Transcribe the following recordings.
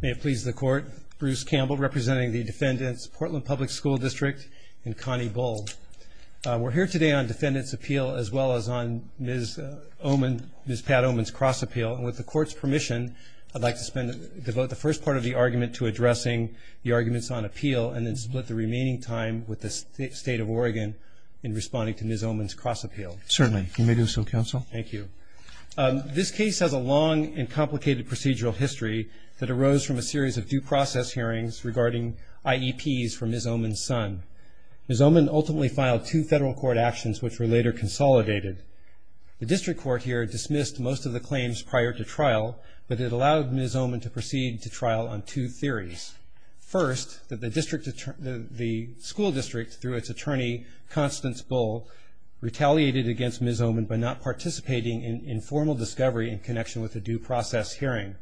May it please the Court, Bruce Campbell representing the defendants, Portland Public School District and Connie Bull. We're here today on defendants appeal as well as on Ms. Oman, Ms. Pat Oman's cross appeal and with the court's permission I'd like to spend, devote the first part of the argument to addressing the arguments on appeal and then split the remaining time with the state of Oregon in responding to Ms. Oman's cross appeal. Certainly, you may do so counsel. Thank you. I'd like to start with the procedural history that arose from a series of due process hearings regarding IEPs for Ms. Oman's son. Ms. Oman ultimately filed two federal court actions which were later consolidated. The district court here dismissed most of the claims prior to trial but it allowed Ms. Oman to proceed to trial on two theories. First, that the district, the school district through its attorney Constance Bull retaliated against Ms. Oman by not participating in the trial.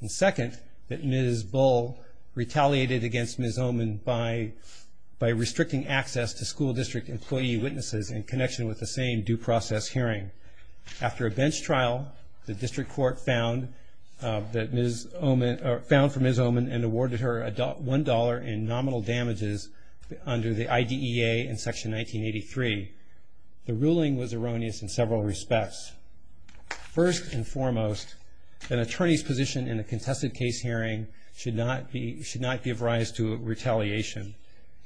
And second, that Ms. Bull retaliated against Ms. Oman by restricting access to school district employee witnesses in connection with the same due process hearing. After a bench trial, the district court found that Ms. Oman, found for Ms. Oman and awarded her $1 in nominal damages under the IDEA in section 1983. The ruling was erroneous in several respects. First and foremost, an attorney's position in a contested case hearing should not be, should not give rise to retaliation.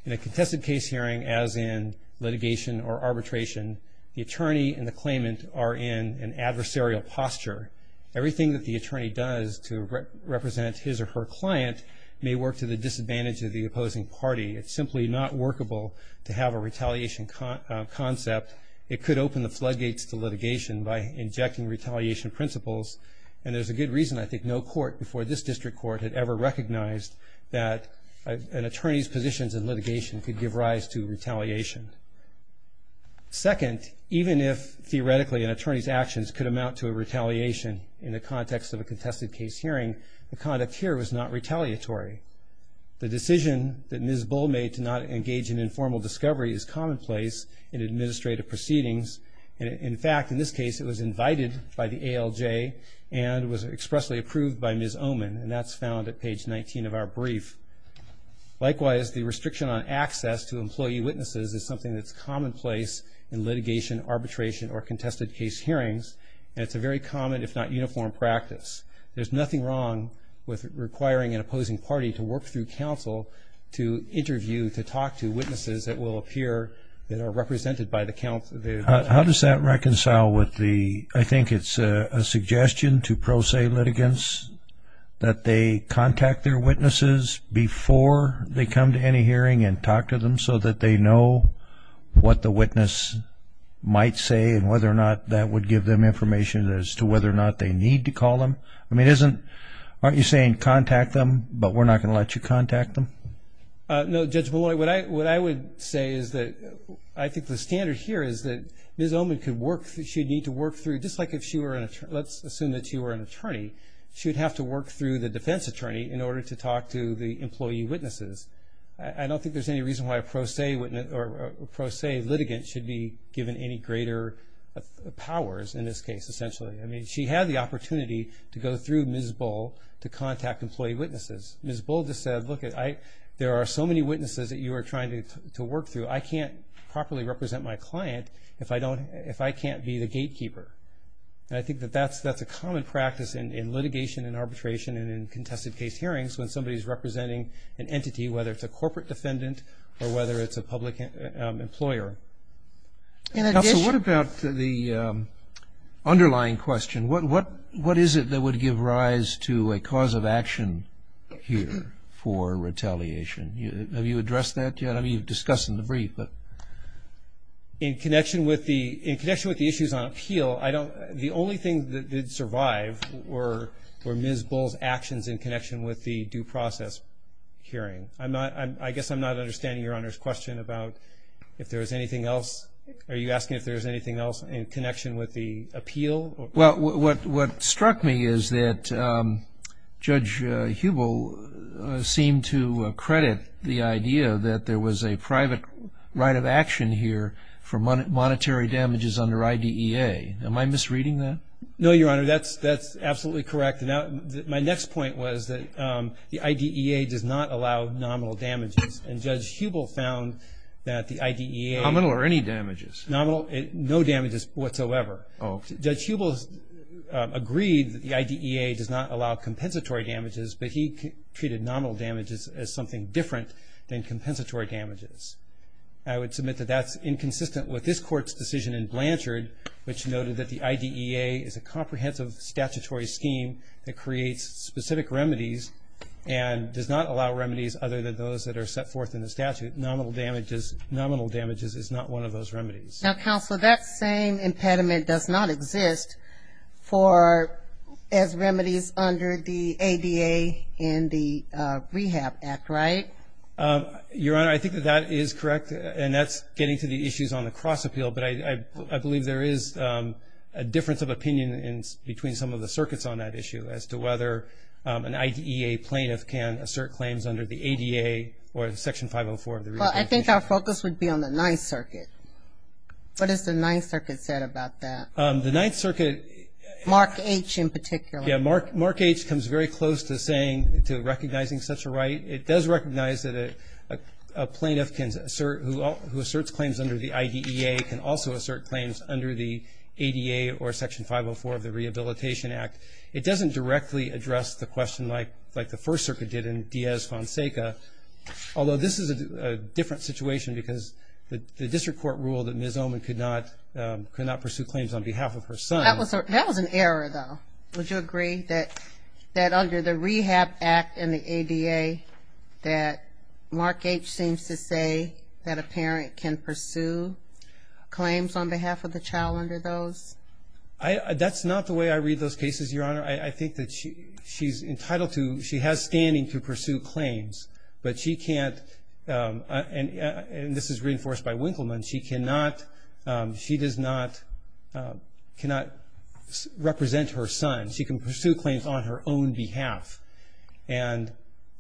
In a contested case hearing as in litigation or arbitration, the attorney and the claimant are in an adversarial posture. Everything that the attorney does to represent his or her client may work to the disadvantage of the opposing party. It's simply not workable to have a retaliation concept. It could open the floodgates to litigation by injecting retaliation principles. And there's a good reason I think no court before this district court had ever recognized that an attorney's positions in litigation could give rise to retaliation. Second, even if theoretically an attorney's actions could amount to a retaliation in the context of a contested case hearing, the conduct here was not retaliatory. The decision that Ms. Bull made to not engage in informal discovery is commonplace in administrative proceedings. In fact, in this case, it was invited by the ALJ and was expressly approved by Ms. Oman. And that's found at page 19 of our brief. Likewise, the restriction on access to employee witnesses is something that's commonplace in litigation, arbitration, or contested case hearings. And it's a very common, if not uniform, practice. There's nothing wrong with requiring an opposing party to work through counsel to interview, to talk to witnesses that will appear, that are represented by the counsel. How does that reconcile with the, I think it's a suggestion to pro se litigants that they contact their witnesses before they come to any hearing and talk to them so that they know what the witness might say and whether or not that would give them information as to whether or not they need to call them. I mean, isn't, aren't you saying contact them, but we're not going to let you contact them? No, Judge Malloy, what I would say is that I think the standard here is that Ms. Oman could work through, she'd need to work through, just like if she were an attorney, let's assume that you were an attorney, she'd have to work through the defense attorney in order to talk to the employee witnesses. I don't think there's any reason why a pro se witness or pro se litigant should be given any greater powers in this case, essentially. I mean, she had the opportunity to go through Ms. Bull to contact employee witnesses. Ms. Bull just said, look, I, there are so many witnesses that you are trying to work through. I can't properly represent my client if I don't, if I can't be the gatekeeper. And I think that that's, that's a common practice in, in litigation and arbitration and in contested case hearings when somebody's representing an entity, whether it's a corporate defendant or whether it's a public employer. What about the underlying question? What, what, what is it that would give rise to a cause of action here for retaliation? Have you addressed that yet? I mean, you've discussed in the brief, but. In connection with the, in connection with the issues on appeal, I don't, the only thing that did survive were, were Ms. Bull's actions in connection with the due process hearing. I'm not, I guess I'm not understanding Your Honor's question about if there was anything else. Are you asking if there's anything else in connection with the appeal? Well, what, what struck me is that Judge Hubel seemed to credit the idea that there was a private right of action here for monetary damages under IDEA. Am I misreading that? No, Your Honor. That's, that's absolutely correct. Now, my next point was that the IDEA does not allow nominal damages. And Judge Hubel found that the IDEA. Nominal or any damages? Nominal, no damages whatsoever. Oh. Judge Hubel agreed that the IDEA does not allow compensatory damages, but he treated nominal damages as something different than compensatory damages. I would submit that that's inconsistent with this court's decision in Blanchard, which noted that the IDEA is a comprehensive statutory scheme that creates specific remedies and does not allow remedies other than those that are set forth in the statute. Nominal damages, nominal damages is not one of those remedies. Now, Counselor, that same remedy is under the ADA and the Rehab Act, right? Your Honor, I think that that is correct, and that's getting to the issues on the cross-appeal, but I believe there is a difference of opinion in between some of the circuits on that issue as to whether an IDEA plaintiff can assert claims under the ADA or Section 504 of the Rehab Act. Well, I think our focus would be on the Ninth Circuit. What has the Mark H. comes very close to saying, to recognizing such a right. It does recognize that a plaintiff can assert, who asserts claims under the IDEA, can also assert claims under the ADA or Section 504 of the Rehabilitation Act. It doesn't directly address the question like the First Circuit did in Diaz-Fonseca, although this is a different situation because the District Court ruled that Ms. Oman could not pursue claims on behalf of her son. That was an error, though. Would you agree that under the Rehab Act and the ADA that Mark H. seems to say that a parent can pursue claims on behalf of the child under those? That's not the way I read those cases, Your Honor. I think that she's entitled to, she has standing to pursue claims, but she can't, and this is represent her son. She can pursue claims on her own behalf, and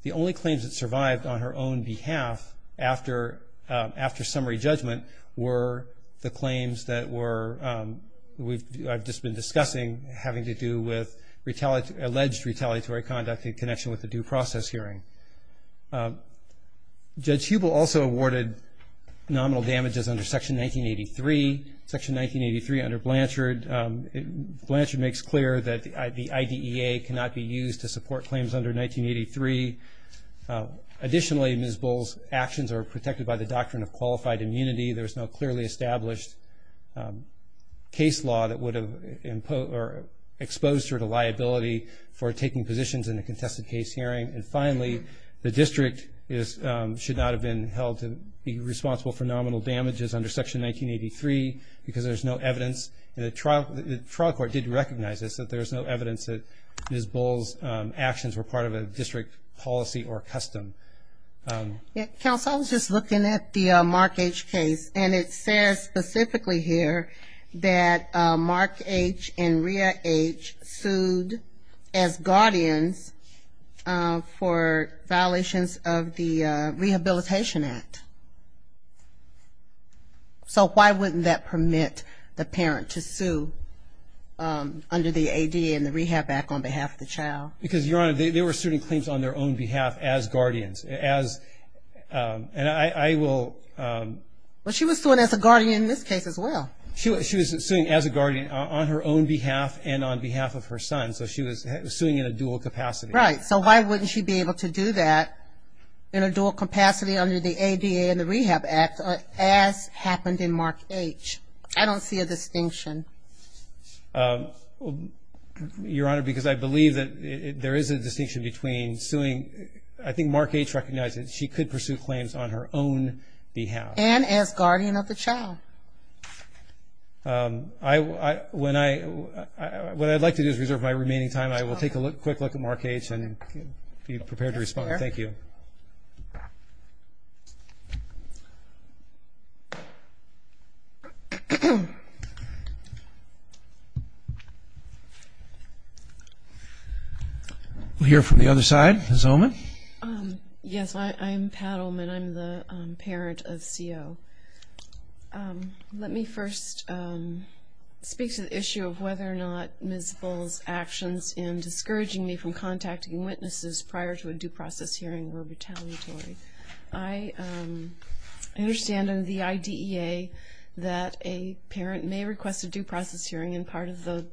the only claims that survived on her own behalf after summary judgment were the claims that were, I've just been discussing, having to do with alleged retaliatory conduct in connection with the due process hearing. Judge Hubel also awarded nominal damages under Section 1983, Section 1983 under Blanchard. Blanchard makes clear that the IDEA cannot be used to support claims under 1983. Additionally, Ms. Bull's actions are protected by the doctrine of qualified immunity. There's no clearly established case law that would have exposed her to liability for taking positions in a contested case hearing. And finally, the responsible for nominal damages under Section 1983, because there's no evidence, and the trial court did recognize this, that there's no evidence that Ms. Bull's actions were part of a district policy or custom. Counsel, I was just looking at the Mark H case, and it says specifically here that Mark H and Rhea H sued as guardians for violations of the Rehabilitation Act. So why wouldn't that permit the parent to sue under the ADA and the Rehab Act on behalf of the child? Because, Your Honor, they were suing claims on their own behalf as guardians, as, and I will... Well, she was suing as a guardian in this case as well. She was suing as a guardian on her own behalf and on behalf of her son, so she was suing in a dual capacity. Right, so why wouldn't she be able to do that in a dual capacity under the ADA and the Rehab Act, as happened in Mark H? I don't see a distinction. Your Honor, because I believe that there is a distinction between suing... I think Mark H recognized that she could pursue claims on her own behalf. And as guardian of the child. When I... What I'd like to do is reserve my remaining time. I will take a quick look at Mark H and be prepared to respond. Thank you. We'll hear from the other side. Ms. Ullman? Yes, I'm Pat Ullman. I'm the parent of CO. Let me first speak to the issue of whether or not Ms. Bull's discouraging me from contacting witnesses prior to a due process hearing were retaliatory. I understand under the IDEA that a parent may request a due process hearing and part of the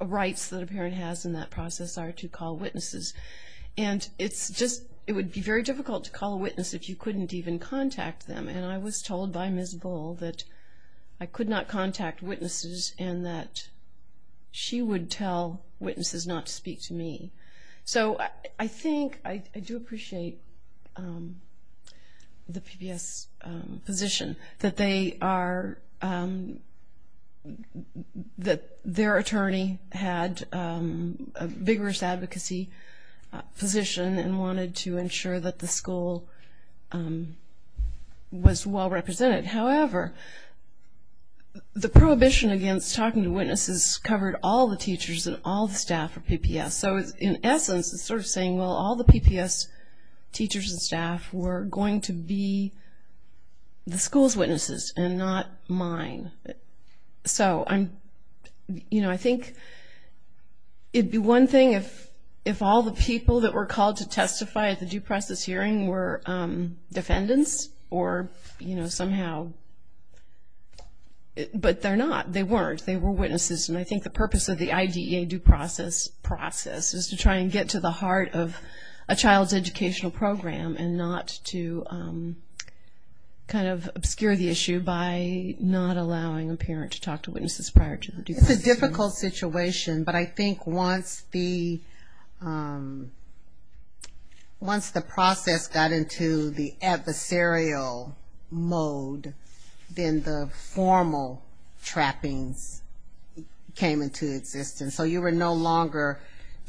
rights that a parent has in that process are to call witnesses. And it's just... It would be very difficult to call a witness if you couldn't even contact them. And I was told by Ms. Bull that I could not call witnesses not to speak to me. So I think, I do appreciate the PBS position that they are... That their attorney had a vigorous advocacy position and wanted to ensure that the school was well-represented. However, the prohibition against talking to witnesses covered all the teachers and all the staff of PPS. So in essence, it's sort of saying, well, all the PPS teachers and staff were going to be the school's witnesses and not mine. So I'm, you know, I think it'd be one thing if all the people that were called to testify at the due process hearing were defendants or, you know, somehow... But they're not. They weren't. They were witnesses and I think the purpose of the IDEA due process process is to try and get to the heart of a child's educational program and not to kind of obscure the issue by not allowing a parent to talk to witnesses prior to the due process hearing. It's a difficult situation, but I think once the process got into the adversarial mode, then the formal trappings came into existence. So you were no longer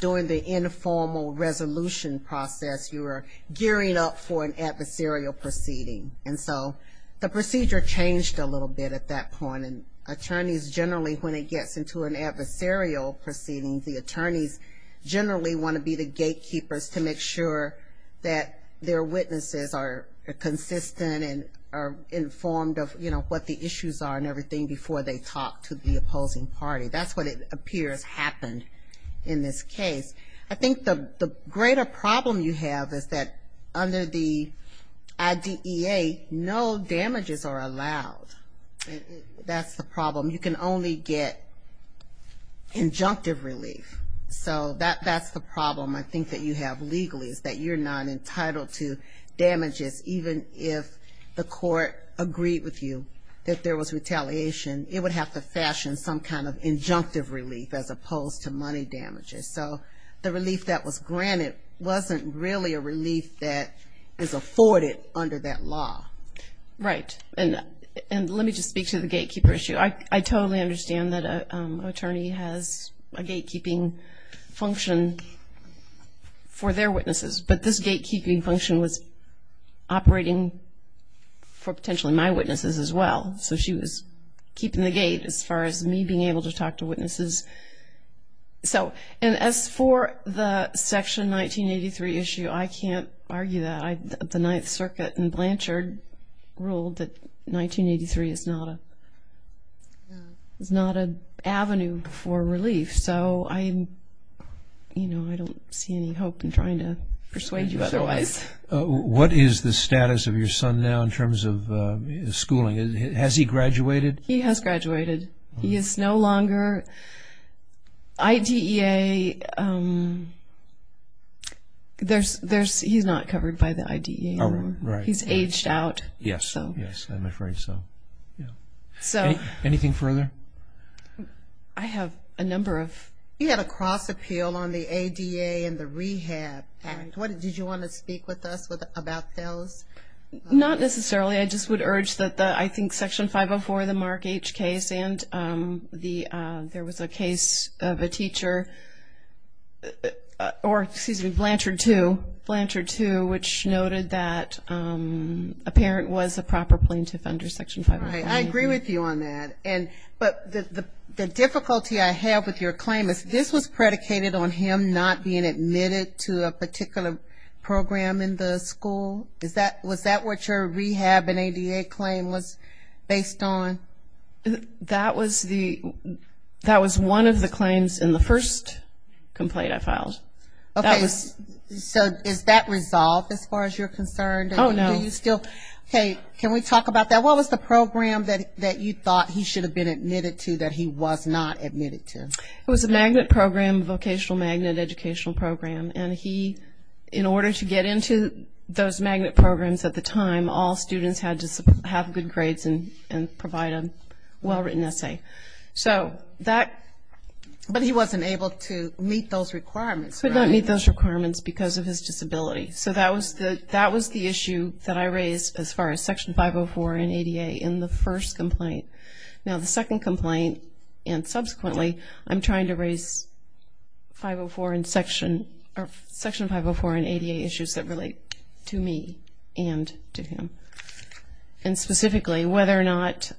doing the informal resolution process. You were gearing up for an adversarial proceeding. And so the procedure changed a little bit at that point and attorneys generally, when it gets into an adversarial proceeding, the attorneys generally want to be the gatekeepers to make sure that their witnesses are consistent and are informed of, you know, what the issues are and everything before they talk to the opposing party. That's what it appears happened in this case. I think the greater problem you have is that under the IDEA, no damages are allowed. That's the problem. You can only get injunctive relief. So that's the problem I think that you have legally is that you're not entitled to relief. So even if the court agreed with you that there was retaliation, it would have to fashion some kind of injunctive relief as opposed to money damages. So the relief that was granted wasn't really a relief that is afforded under that law. Right. And let me just speak to the gatekeeper issue. I totally understand that an attorney has a gatekeeping function for their witnesses, but this was operating for potentially my witnesses as well. So she was keeping the gate as far as me being able to talk to witnesses. So, and as for the Section 1983 issue, I can't argue that. The Ninth Circuit and Blanchard ruled that 1983 is not an avenue for relief. So I, you know, I don't see any hope in trying to persuade you otherwise. What is the status of your son now in terms of schooling? Has he graduated? He has graduated. He is no longer IDEA. There's, he's not covered by the IDEA. Oh, right. He's aged out. Yes, I'm afraid so. Anything further? I have a number of... You had a cross appeal on the ADA and the Rehab Act. Did you want to speak with us about those? Not necessarily. I just would urge that the, I think Section 504, the Mark H case, and the, there was a case of a teacher, or excuse me, Blanchard II, Blanchard II, which noted that a parent was a proper plaintiff under Section 504. I agree with you on that. And, but the difficulty I have with your claim is this was predicated on him not being admitted to a particular program in the school? Is that, was that what your rehab and ADA claim was based on? That was the, that was one of the claims in the first complaint I filed. Okay, so is that resolved as far as you're concerned? Oh, no. Do you still, hey, can we talk about that? What was the program that you thought he should have been admitted to that he was not admitted to? It was a magnet program, vocational magnet educational program, and he, in order to get into those magnet programs at the time, all students had to have good grades and provide a well-written essay. So that... But he wasn't able to meet those requirements, right? Could not meet those requirements because of his disability. So that was the issue that I raised as far as Section 504 and ADA in the first complaint. Now, the second complaint, and subsequently, I'm trying to raise 504 and Section, or Section 504 and ADA issues that relate to me and to him, and specifically whether or not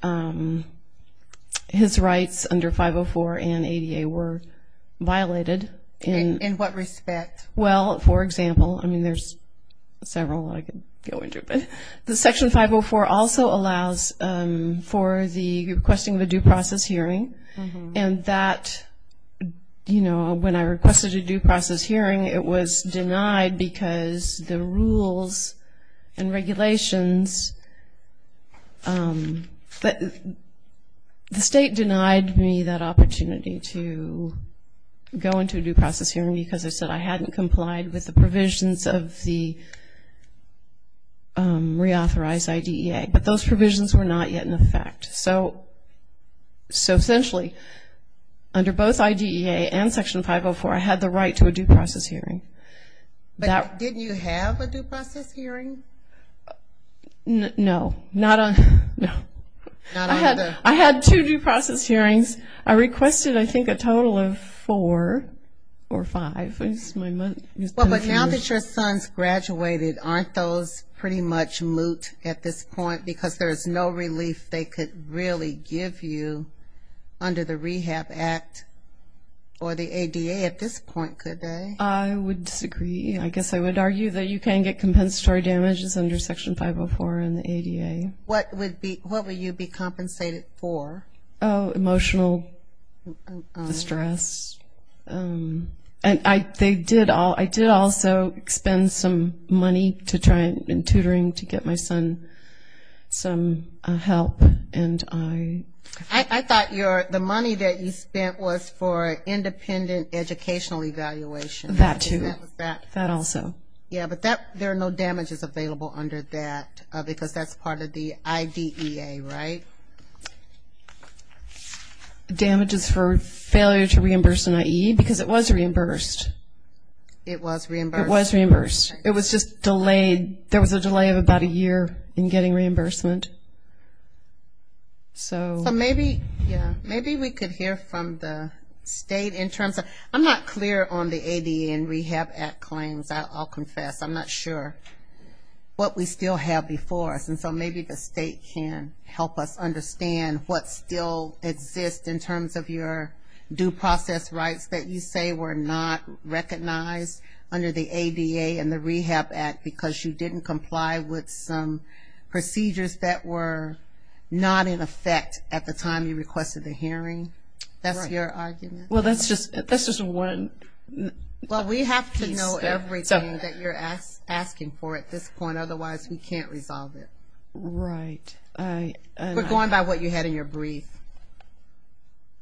his rights under 504 and ADA were violated in... In what respect? Well, for example, I mean, there's several I could go into, but the Section 504 also allows for the requesting of a due process hearing, and that, you know, when I requested a due process hearing, it was denied because the rules and regulations... The state denied me that opportunity to go into a due process hearing because I said I hadn't complied with the provisions of the reauthorized IDEA. But those provisions were not yet in effect. So essentially, under both IDEA and Section 504, I had the right to a due process hearing. But didn't you have a due process hearing? No. Not on... No. Not on the... Well, but now that your son's graduated, aren't those pretty much moot at this point? Because there's no relief they could really give you under the Rehab Act or the ADA at this point, could they? I would disagree. I guess I would argue that you can get compensatory damages under Section 504 and the ADA. What would be... What would you be compensated for? Oh, emotional distress. And I did also spend some money to try, in tutoring, to get my son some help, and I... I thought the money that you spent was for independent educational evaluation. That too. That was that. That also. Yeah, but there are no damages available under that because that's part of the damages for failure to reimburse an IE because it was reimbursed. It was reimbursed. It was reimbursed. It was just delayed. There was a delay of about a year in getting reimbursement. So... So maybe, yeah, maybe we could hear from the state in terms of... I'm not clear on the ADA and Rehab Act claims, I'll confess. I'm not sure what we still exist in terms of your due process rights that you say were not recognized under the ADA and the Rehab Act because you didn't comply with some procedures that were not in effect at the time you requested the hearing. Right. That's your argument? Well, that's just one piece there. Well, we have to know everything that you're asking for at this point, otherwise we can't resolve it. Right. I... We're going by what you had in your brief.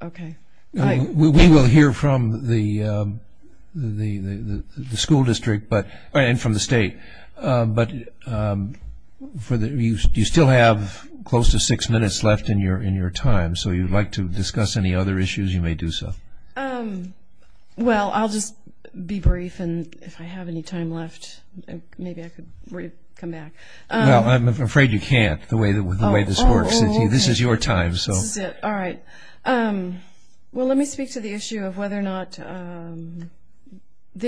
Okay. We will hear from the school district and from the state, but you still have close to six minutes left in your time, so if you'd like to discuss any other issues, you may do so. Well, I'll just be brief and if I have any time left, maybe I could come back. Well, I'm afraid you can't the way this works. Oh, okay. This is your time, so... This is it. All right. Well, let me speak to the issue of whether or not the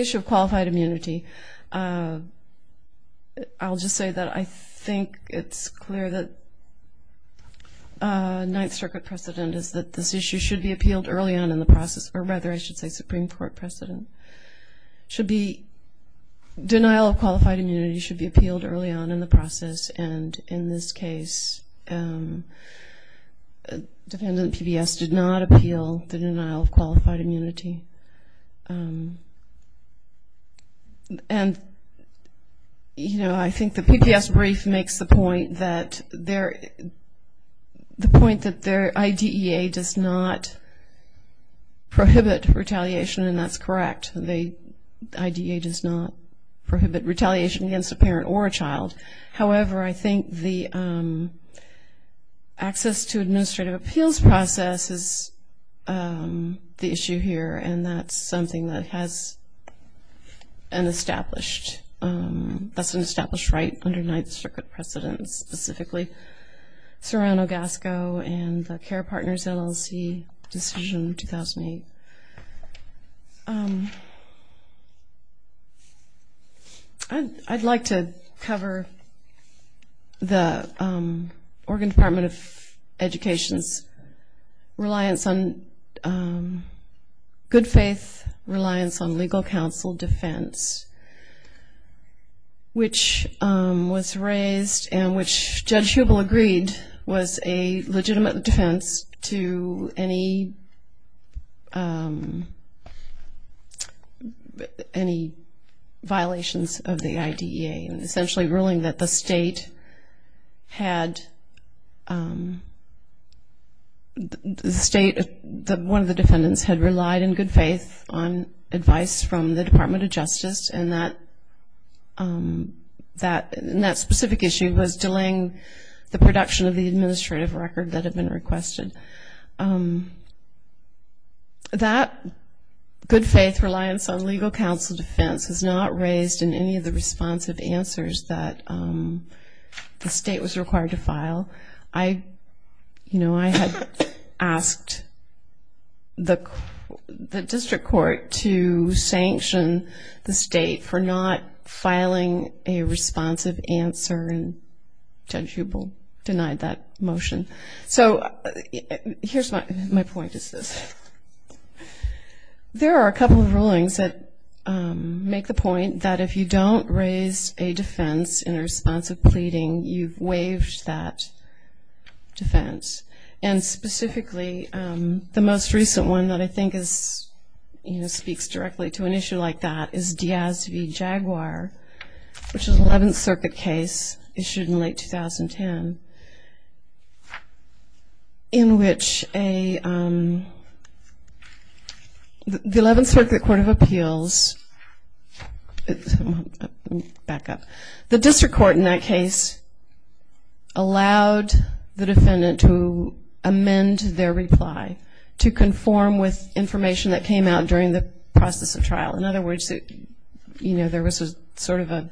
issue of qualified immunity. I'll just say that I think it's clear that Ninth Circuit precedent is that this issue should be appealed early on in the process, or rather I should say Supreme Court precedent. Should be... early on in the process, and in this case, defendant PBS did not appeal the denial of qualified immunity. And, you know, I think the PBS brief makes the point that their... the point that their IDEA does not prohibit retaliation and that's correct. The IDEA does not prohibit retaliation against a parent or a child. However, I think the access to administrative appeals process is the issue here and that's something that has an established... that's an established right under Ninth Circuit precedent, specifically Serrano-Gasco and the CARE Partners LLC decision 2008. I'd like to cover the Oregon Department of Education's reliance on... good faith reliance on legal counsel defense, which was raised and which Judge Hubel agreed was a legitimate defense to any... any violations of the IDEA and essentially ruling that the state had... the state... one of the defendants had relied in good faith on advice from the production of the administrative record that had been requested. That good faith reliance on legal counsel defense is not raised in any of the responsive answers that the state was required to file. I, you know, I had asked the district court to sanction the state for not filing a responsive answer and Judge Hubel denied that motion. So here's my... my point is this. There are a couple of rulings that make the point that if you don't raise a defense in response of pleading, you've waived that defense and specifically the most recent one that I think is, you know, speaks directly to an issue like that is Diaz v. Jaguar, which is an 11th Circuit case issued in late 2010 in which a... the 11th Circuit Court of Appeals... back up... the district court in that case allowed the defendant to amend their reply to conform with the... you know, there was a sort of a...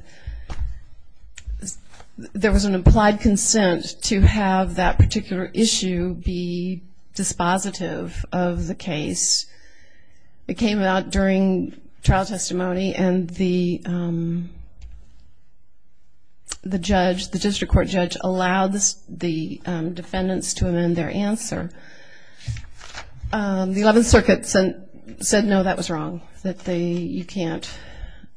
there was an implied consent to have that particular issue be dispositive of the case. It came out during trial testimony and the... the judge... the district court judge allowed the defendants to amend their answer. The 11th Circuit said no, that was wrong. That they... you can't...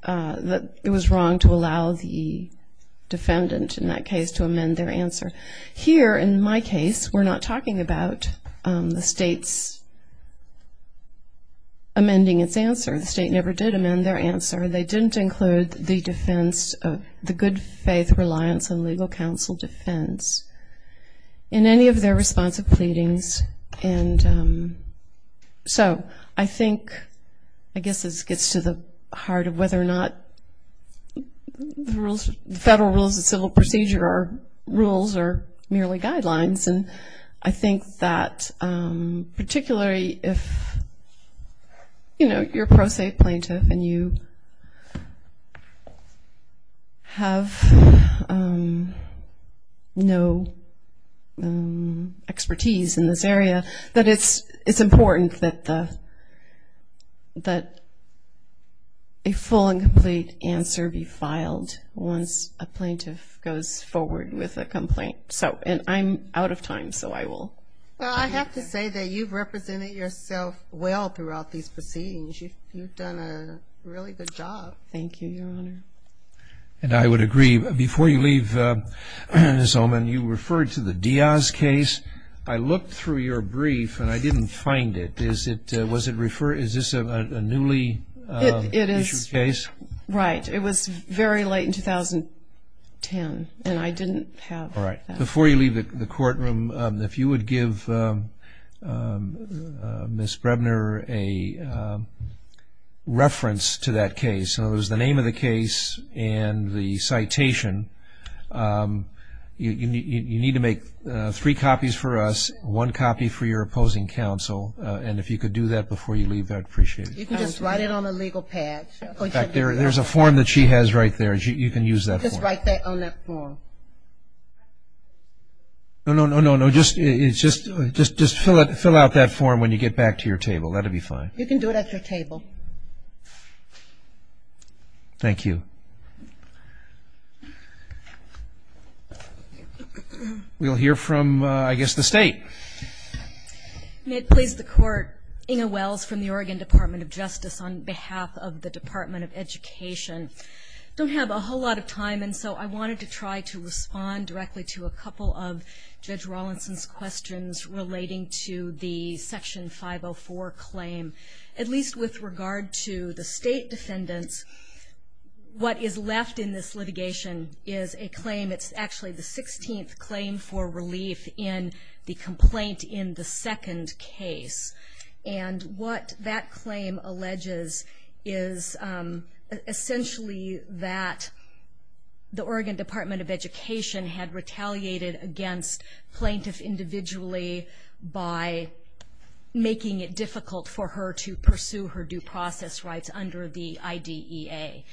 that it was wrong to allow the defendant in that case to amend their answer. Here, in my case, we're not talking about the state's amending its answer. The state never did amend their answer. They didn't include the defense... the good faith reliance on legal counsel defense in any of their responsive pleadings. And so, I think, I guess this gets to the heart of whether or not the rules... the federal rules of civil procedure are rules or merely guidelines. And I think that particularly if, you know, you're a pro se plaintiff and you have no expertise in this area, that it's... it's important that the... that a full and complete answer be filed once a plaintiff goes forward with a complaint. So... and I'm out of time, so I will... Well, I have to say that you've represented yourself well throughout these proceedings. You've done a really good job. Thank you, Your Honor. And I would agree. Before you leave, Ms. Ullman, you referred to the Diaz case. I looked through your brief and I didn't find it. Is it... was it referred... is this a newly issued case? It is... right. It was very late in 2010 and I didn't have that. Before you leave the courtroom, if you would give Ms. Brebner a reference to that case, in other words, the name of the case and the citation, you need to make three copies for us, one copy for your opposing counsel, and if you could do that before you leave, I'd appreciate it. You can just write it on the legal pad. In fact, there's a form that she has right there. You can use that form. Just write that on that form. No, no, no, no, no. Just fill out that form when you get back to your table. That'll be fine. You can do it at your table. Thank you. We'll hear from, I guess, the State. May it please the Court, Inge Wells from the Oregon Department of Justice on behalf of the Department of Education. I don't have a whole lot of time and so I wanted to try to respond directly to a couple of Judge Rawlinson's questions relating to the Section 504 claim. At least with regard to the State defendants, what is left in this litigation is a claim. It's actually the 16th claim for relief in the complaint in the second case. And what that claim alleges is essentially that the Oregon Department of Education had retaliated against plaintiff individually by making it difficult for her to pursue her due process rights under the IDEA.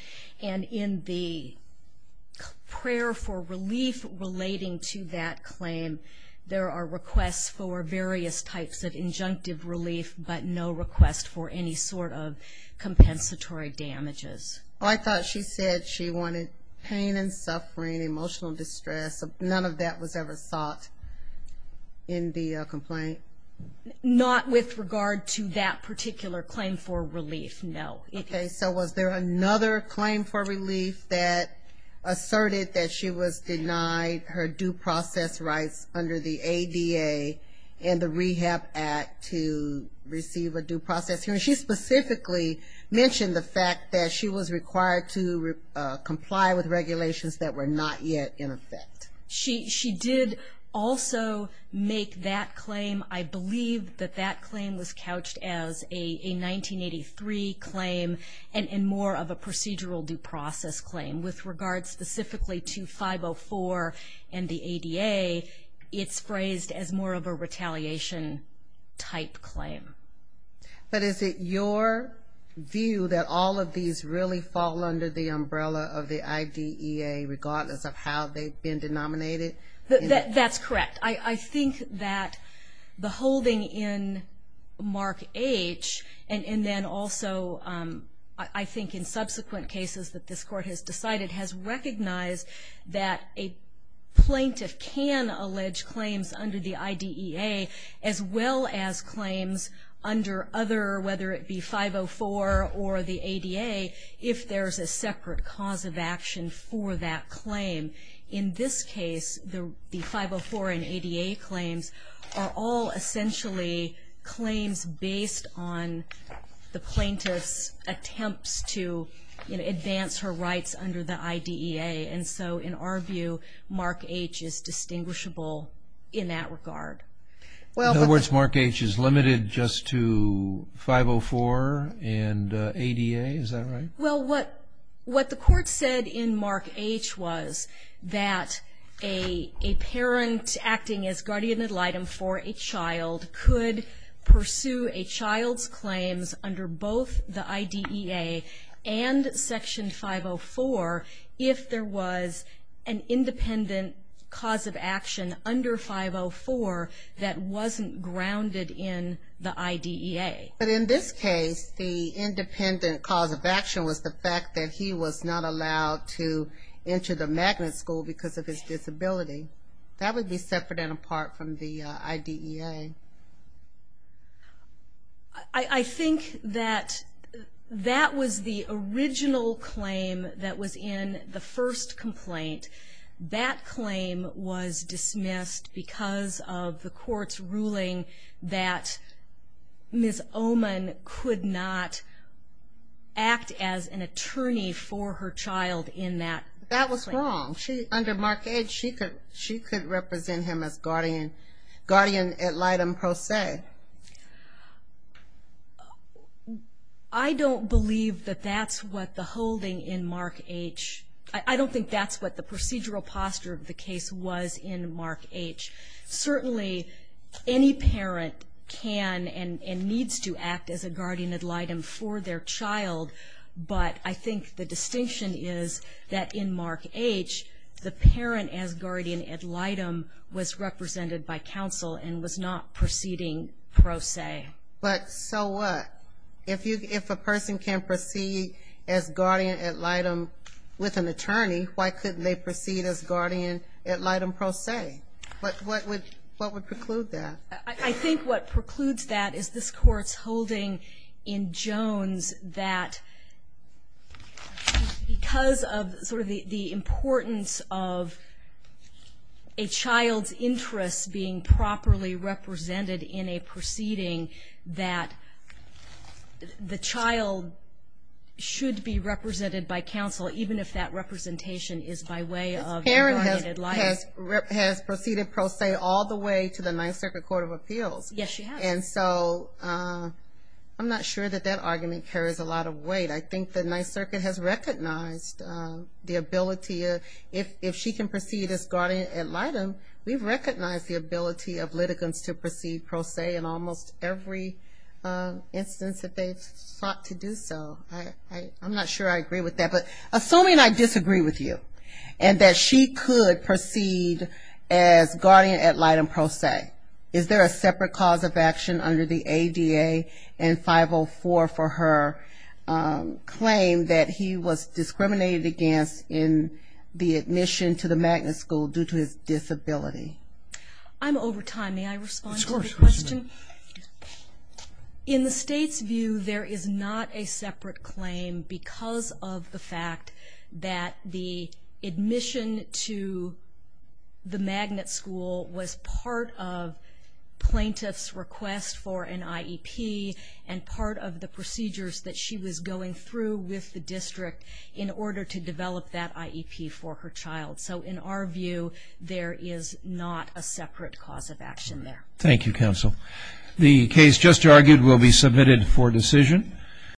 And in the prayer for relief relating to that claim, there are requests for various types of injunctive relief but no request for any sort of compensatory damages. I thought she said she wanted pain and suffering, emotional distress. None of that was ever sought in the complaint? Not with regard to that particular claim for relief, no. Okay. So was there another claim for relief that asserted that she was denied her due process rights under the ADA and the Rehab Act to receive a due process hearing? She specifically mentioned the fact that she was required to comply with regulations that were not yet in effect. She did also make that claim. I believe that that claim was couched as a 1983 claim and more of a retaliation type claim. But is it your view that all of these really fall under the umbrella of the IDEA regardless of how they've been denominated? That's correct. I think that the holding in Mark H. and then also I think in subsequent cases that this court has decided has recognized that a plaintiff can allege claims under the IDEA as well as claims under other, whether it be 504 or the ADA, if there's a separate cause of action for that claim. In this case, the 504 and ADA claims are all essentially claims based on the IDEA. And so in our view, Mark H. is distinguishable in that regard. In other words, Mark H. is limited just to 504 and ADA. Is that right? Well, what the court said in Mark H. was that a parent acting as guardian ad litem for a child could pursue a claim under the IDEA and Section 504 if there was an independent cause of action under 504 that wasn't grounded in the IDEA. But in this case, the independent cause of action was the fact that he was not allowed to enter the magnet school because of his disability. That would be separate and apart from the IDEA. I think that that was the original claim that was in the first complaint. That claim was dismissed because of the court's ruling that Ms. Oman could not act as an attorney for her child in that claim. That was wrong. Under Mark H., she could represent him as guardian ad litem per se. I don't believe that that's what the holding in Mark H. I don't think that's what the procedural posture of the case was in Mark H. Certainly, any parent can and needs to act as a guardian ad litem for their child if the parent as guardian ad litem was represented by counsel and was not proceeding per se. But so what? If a person can proceed as guardian ad litem with an attorney, why couldn't they proceed as guardian ad litem per se? What would preclude that? I think what precludes that is this court's holding in Jones that because of sort of the importance of a child's interest being properly represented in a proceeding that the child should be represented by counsel even if that representation is by way of a guardian ad litem. This parent has proceeded per se all the way to the Ninth Circuit Court of Appeals. Yes, she has. And so I'm not sure that that argument carries a lot of weight. I think the Ninth Circuit has recognized the ability. If she can proceed as guardian ad litem, we've recognized the ability of litigants to proceed per se in almost every instance that they've sought to do so. I'm not sure I agree with that. But assuming I disagree with you and that she could proceed as guardian ad litem per se, is there a separate cause of action under the ADA and 504 for her claim that he was discriminated against in the admission to the magnet school due to his disability? I'm over time. May I respond to the question? Of course. In the state's view, there is not a separate claim because of the fact that the plaintiff's request for an IEP and part of the procedures that she was going through with the district in order to develop that IEP for her child. So in our view, there is not a separate cause of action there. Thank you, Counsel. The case just argued will be submitted for decision.